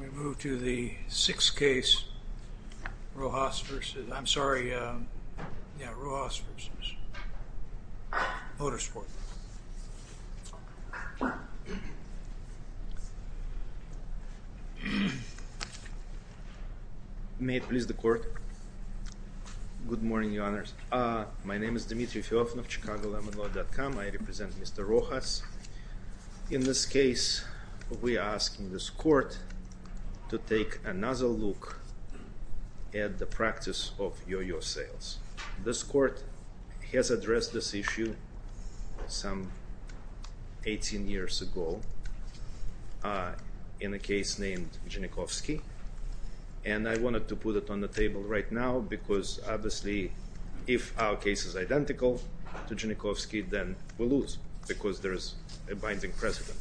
We move to the sixth case Rojas v. Motorsport, Inc. May it please the court. Good morning, Your Honors. My name is Dmitry Feofanov, ChicagoLemonLaw.com. I represent Mr. Rojas. In this case, we are asking this court to take another look at the practice of yoyo sales. This court has addressed this issue some 18 years ago in a case named Genikovsky. And I wanted to put it on the table right now because obviously if our case is identical to Genikovsky, then we lose because there is a binding precedent.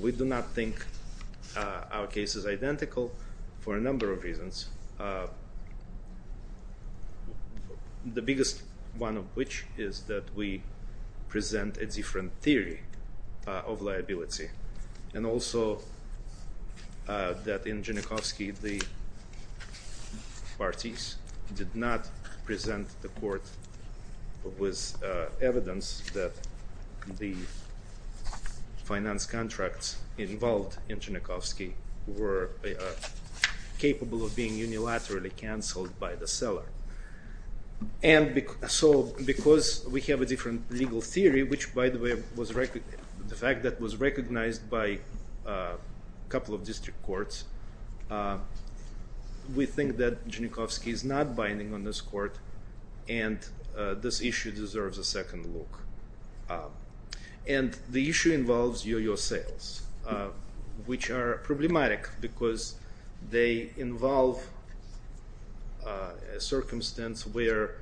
We do not think our case is identical for a number of reasons, the biggest one of which is that we present a different theory of liability. And also that in Genikovsky, the parties did not present the court with evidence that the finance contracts involved in Genikovsky were capable of being unilaterally canceled by the seller. And so because we have a different legal theory, which by the way was recognized by a couple of district courts, we think that Genikovsky is not binding on this court and this issue deserves a second look. And the issue involves yoyo sales, which are problematic because they involve a circumstance where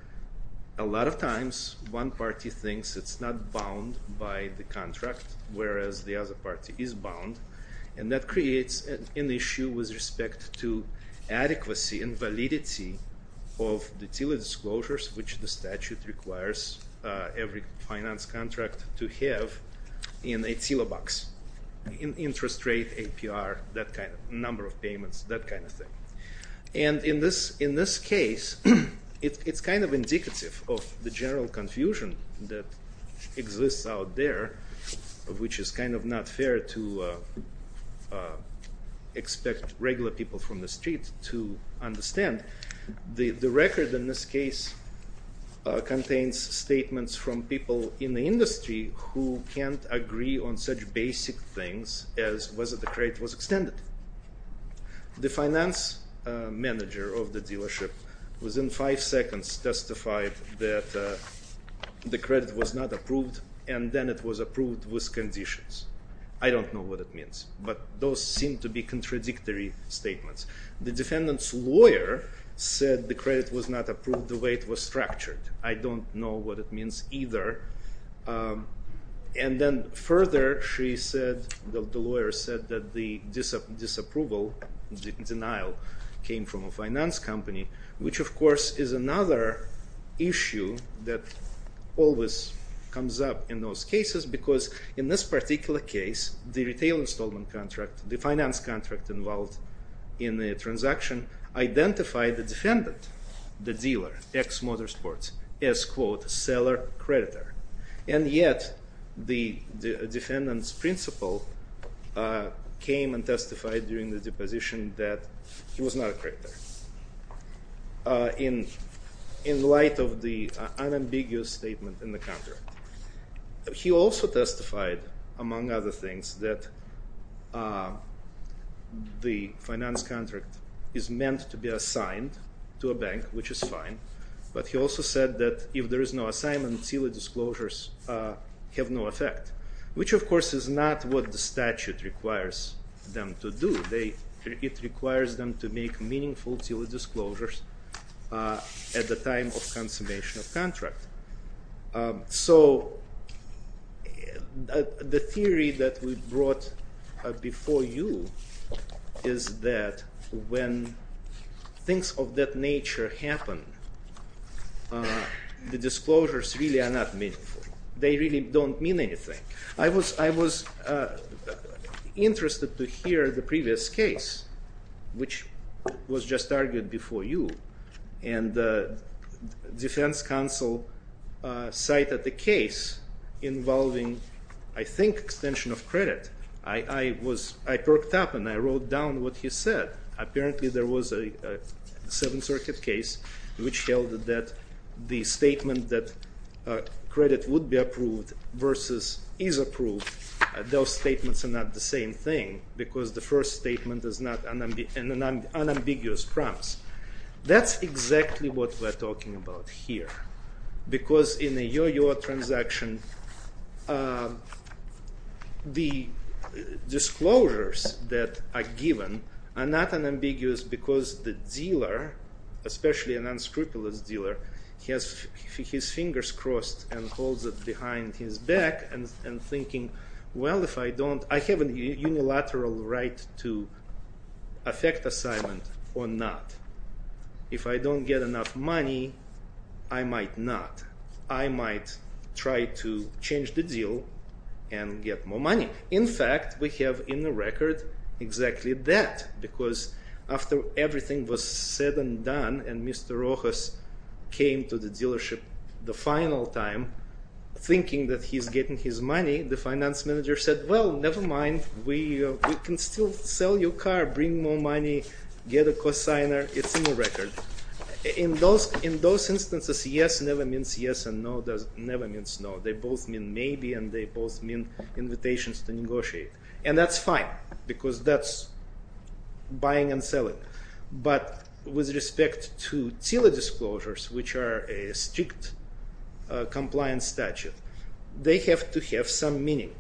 a lot of times, one party thinks it's not bound by the contract, whereas the other party is bound and that creates an issue with respect to adequacy and validity of the TILA disclosures which the statute requires every finance contract to have in a TILA box. Interest rate, APR, number of payments, that kind of thing. And in this case, it's kind of indicative of the to expect regular people from the street to understand. The record in this case contains statements from people in the industry who can't agree on such basic things as whether the credit was extended. The finance manager of the dealership within five seconds testified that the credit was not approved and then it was approved with conditions. I don't know what it means, but those seem to be contradictory statements. The defendant's lawyer said the credit was not approved the way it was structured. I don't know what it means either. And then further, the lawyer said that the disapproval, the denial came from a finance company, which of course is another issue that always comes up in those cases because in this particular case, the retail installment contract, the finance contract involved in the transaction identified the defendant, the dealer, ex-motorsports, as quote seller creditor. And yet the defendant's lawyer made the deposition that he was not a creditor in light of the unambiguous statement in the contract. He also testified, among other things, that the finance contract is meant to be assigned to a bank, which is fine, but he also said that if there is no assignment, seal the disclosures have no effect, which of course is not what the statute requires them to do. It requires them to make meaningful seal the disclosures at the time of consummation of contract. So the theory that we brought before you is that when things of that nature happen, the disclosures really are not meaningful. They really don't mean anything. I was interested to hear the previous case, which was just argued before you, and the defense counsel cited the case involving, I think, extension of credit. I perked up and I wrote down what he said. Apparently there was a Seventh Circuit case which held that the statement that credit would be approved versus is approved, those statements are not the same thing, because the first statement is not an unambiguous promise. That's exactly what we're talking about here, because in a Yo-Yo transaction, the disclosures that are given are not unambiguous because the dealer, especially an unscrupulous dealer, has his fingers crossed and holds it behind his back and thinking, well, I have a unilateral right to affect assignment or not. If I don't get enough money, I might not. I might try to change the deal and get more money. In fact, we have in the record exactly that, because after everything was said and done and Mr. Rojas came to the dealership the final time thinking that he's getting his money, the finance manager said, well, never mind. We can still sell your car, bring more money, get a cosigner. It's in the record. In those instances, yes never means yes and no never means no. They both mean maybe and they both mean invitations to negotiate. And that's fine, because that's buying and selling. But with respect to TILA disclosures, which are a strict compliance statute, they have to have some meaning.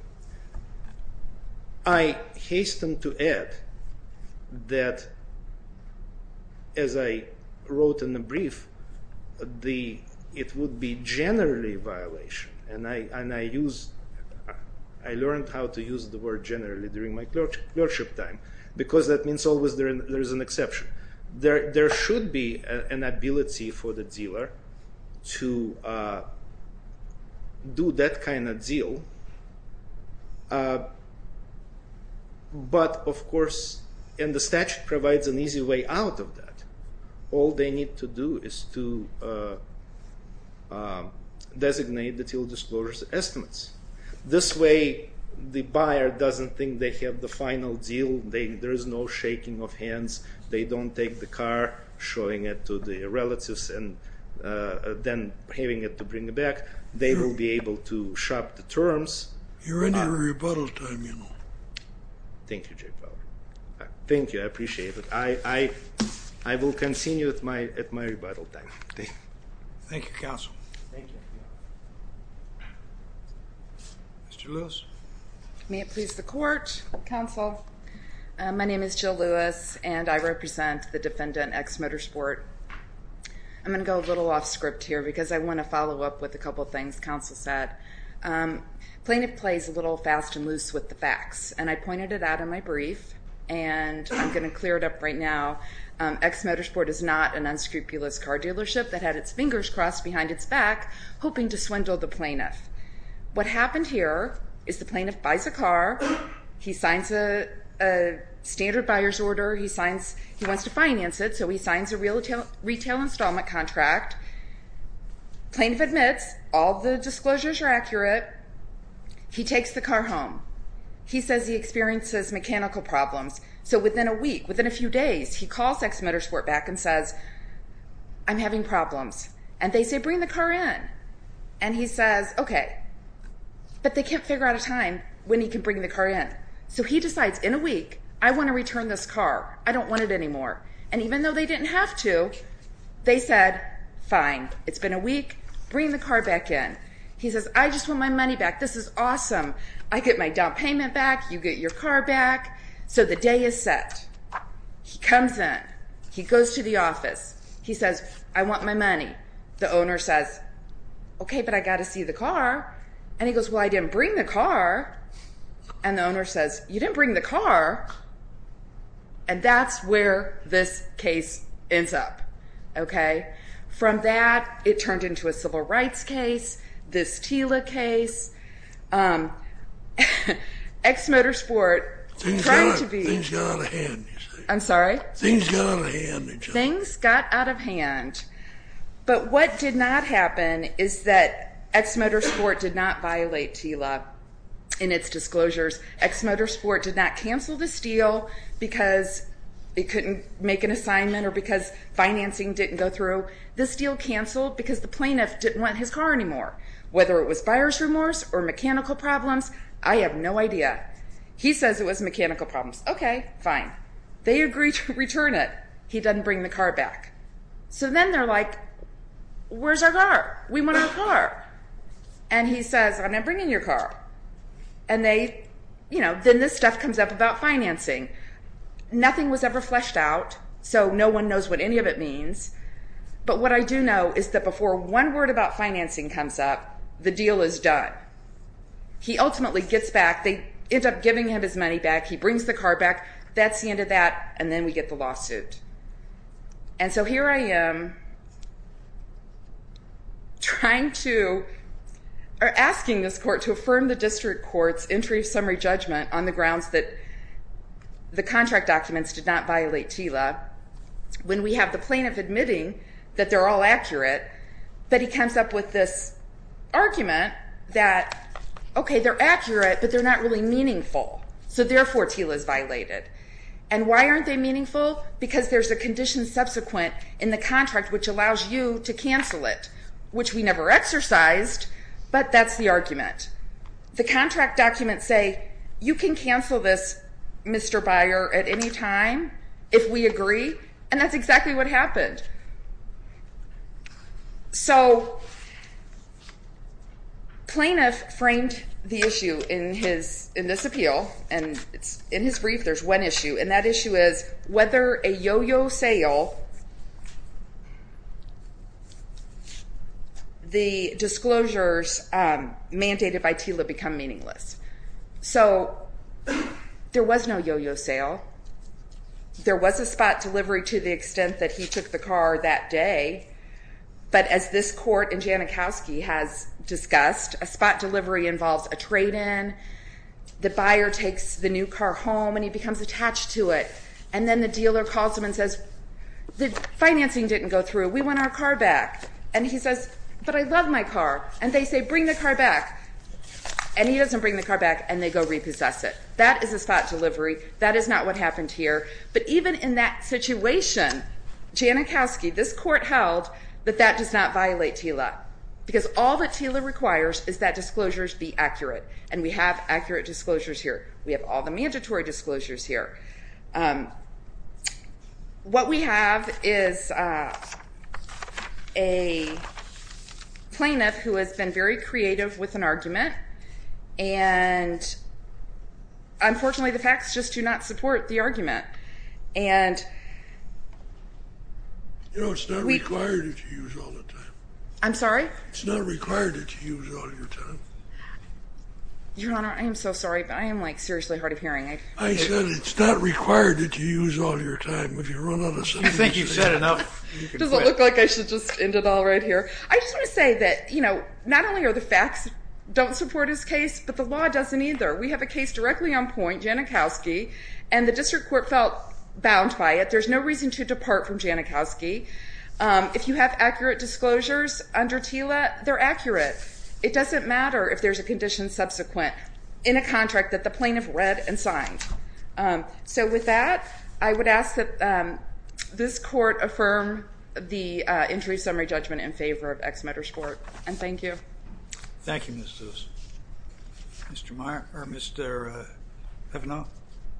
I hasten to add that as I wrote in the brief, it would be generally a violation. I learned how to use the word generally during my clerkship time, because that means always there is an exception. There should be an ability for the dealer to do that kind of deal, but of course in the statute provides an easy way out of that. All they need to do is to designate the TILA disclosures estimates. This way the buyer doesn't think they have the final deal. There is no shaking of hands. They don't take the car, showing it to the relatives and then having it to bring it back. They will be able to shop the terms. You're in your rebuttal time, you know. Thank you, Jay Powell. Thank you, I appreciate it. I will continue at my rebuttal time. Thank you, counsel. Thank you. Mr. Lewis. May it please the court, counsel. My name is Jill Lewis and I represent the defendant X Motorsport. I'm going to go a little off script here, because I want to follow up with a couple of things counsel said. Plaintiff plays a little fast and loose with the facts, and I pointed it out in my brief, and I'm going to clear it up right now. X Motorsport is not an unscrupulous car dealership that had its fingers crossed behind its back, hoping to swindle the plaintiff. What happened here is the plaintiff buys a car, he signs a standard buyer's order, he wants to finance it, so he signs a retail installment contract. Plaintiff admits, all the disclosures are accurate, he takes the car home. He says he experiences mechanical problems, so within a week, within a few days, he calls X Motorsport back and says, I'm having problems. And they say bring the car in. And he says, okay. But they can't figure out a time when he can bring the car in. So he decides in a week, I want to return this car. I don't want it anymore. And even though they didn't have to, they said, fine, it's been a week, bring the car back in. He says, I just want my money back. This is awesome. I get my down payment back, you get your car back. So the day is set. He comes in. He goes to the office. He says, I want my money. The owner says, okay, but I got to see the car. And he goes, well, I didn't bring the car. And the owner says, you didn't bring the car. And that's where this case ends up. Okay? From that, it turned into a civil rights case, this TILA case. X Motorsport tried to be... Things got out of hand. I'm sorry? Things got out of hand. Things got out of hand. But what did not happen is that X Motorsport did not violate TILA in its disclosures. X Motorsport did not cancel this deal because they couldn't make an assignment or because financing didn't go through. This deal canceled because the plaintiff didn't want his car anymore. Whether it was buyer's remorse or mechanical problems, I have no idea. He says it was mechanical problems. Okay, fine. They agreed to return it. He doesn't bring the car back. So then they're like, where's our car? We want our car. And he says, I'm not bringing your car. And then this stuff comes up about financing. Nothing was ever fleshed out, so no one knows what any of it means. But what I do know is that before one word about financing comes up, the deal is done. He ultimately gets back. They end up giving him his money back. He brings the car back. That's the end of that. And then we get the lawsuit. And so here I am trying to, or asking this court to affirm the district court's entry of summary judgment on the grounds that the contract documents did not violate TILA when we have the plaintiff admitting that they're all accurate. But he comes up with this argument that, okay, they're accurate, but they're not really meaningful. So therefore, TILA is violated. And why aren't they meaningful? Because there's a condition subsequent in the contract which allows you to cancel it, which we never exercised, but that's the argument. The contract documents say, you can cancel this, Mr. Byer, at any time if we agree. And that's exactly what happened. So, plaintiff framed the issue in his, in this appeal, and in his brief there's one issue, and that issue is whether a yo-yo sale, the disclosures mandated by TILA become meaningless. So, there was no yo-yo sale. There was a spot delivery to the extent that he took the car that day, but as this court in Janikowski has discussed, a spot delivery involves a trade-in, the buyer takes the new car home and he becomes attached to it, and then the dealer calls him and says, the financing didn't go through, we want our car back. And he says, but I love my car. And they say, bring the car back. And he doesn't bring the car back and they go repossess it. That is a spot delivery. That is not what happened here. But even in that situation, Janikowski, this court held that that does not violate TILA. Because all that TILA requires is that disclosures be accurate. And we have accurate disclosures here. We have all the mandatory disclosures here. What we have is a plaintiff who has been very creative with an argument, and unfortunately the facts just do not support the argument. You know, it's not required that you use all the time. I'm sorry? It's not required that you use all your time? Your Honor, I am so sorry, but I am like seriously hard of hearing. I said it's not required that you use all your time. If you run out of sentences. You think you've said enough, you can quit. Does it look like I should just end it all right here? I just want to say that, you know, not only are the facts don't support his case, but the law doesn't either. We have a case directly on point, Janikowski, and the district court felt bound by it. There's no reason to depart from Janikowski. If you have accurate disclosures under TILA, they're accurate. It doesn't matter if there's a condition subsequent in a contract that the plaintiff read and signed. So with that, I would ask that this court affirm the Injury Summary Judgment in favor of Ex Metres Court, and thank you. Thank you, Ms. Lewis. Mr. Meyer, or Mr. Hevano?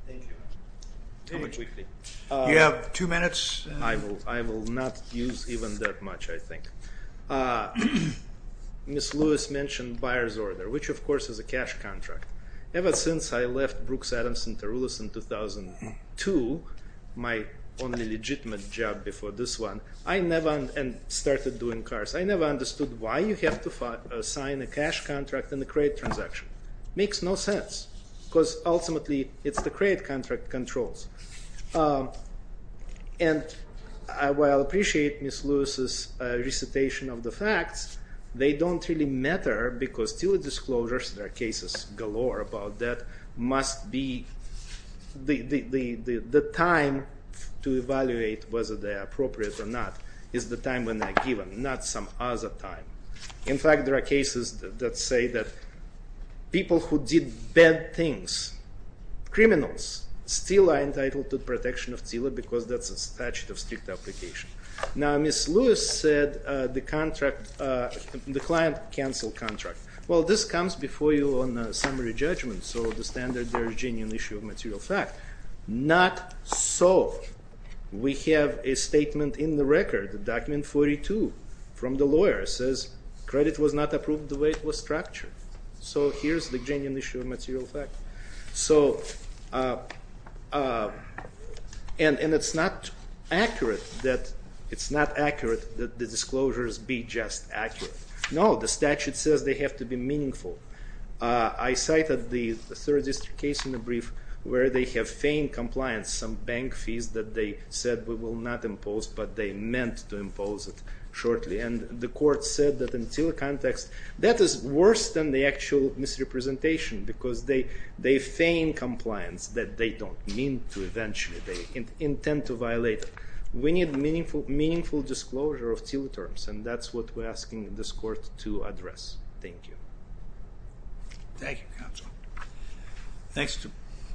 Thank you. How much do we pay? You have two minutes. I will not use even that much, I think. Ms. Lewis mentioned buyer's order, which of course is a cash contract. Ever since I left Brooks Adams and Tarullos in 2002, my only legitimate job before this one, I never, and started doing cars, I never understood why you have to sign a cash contract in a credit contract controls. And while I appreciate Ms. Lewis's recitation of the facts, they don't really matter because TILA disclosures, there are cases galore about that, must be the time to evaluate whether they're appropriate or not is the time when they're given, not some other time. In fact, there are cases that say that people who did bad things, criminals, still are entitled to protection of TILA because that's a statute of strict application. Now, Ms. Lewis said the contract, the client canceled contract. Well, this comes before you on a summary judgment, so the standard there is a genuine issue of material fact. Not so. We have a statement in the record, a document 42 from the lawyer says credit was not approved the way it was structured. So here's the genuine issue of material fact. So, and it's not accurate that the disclosures be just accurate. No, the statute says they have to be meaningful. I cited the third district case in the brief where they have feigned compliance, some bank fees that they said we will not to impose it shortly, and the court said that in TILA context, that is worse than the actual misrepresentation because they feign compliance that they don't mean to eventually. They intend to violate it. We need meaningful disclosure of TILA terms, and that's what we're asking this court to address. Thank you. Thank you, counsel.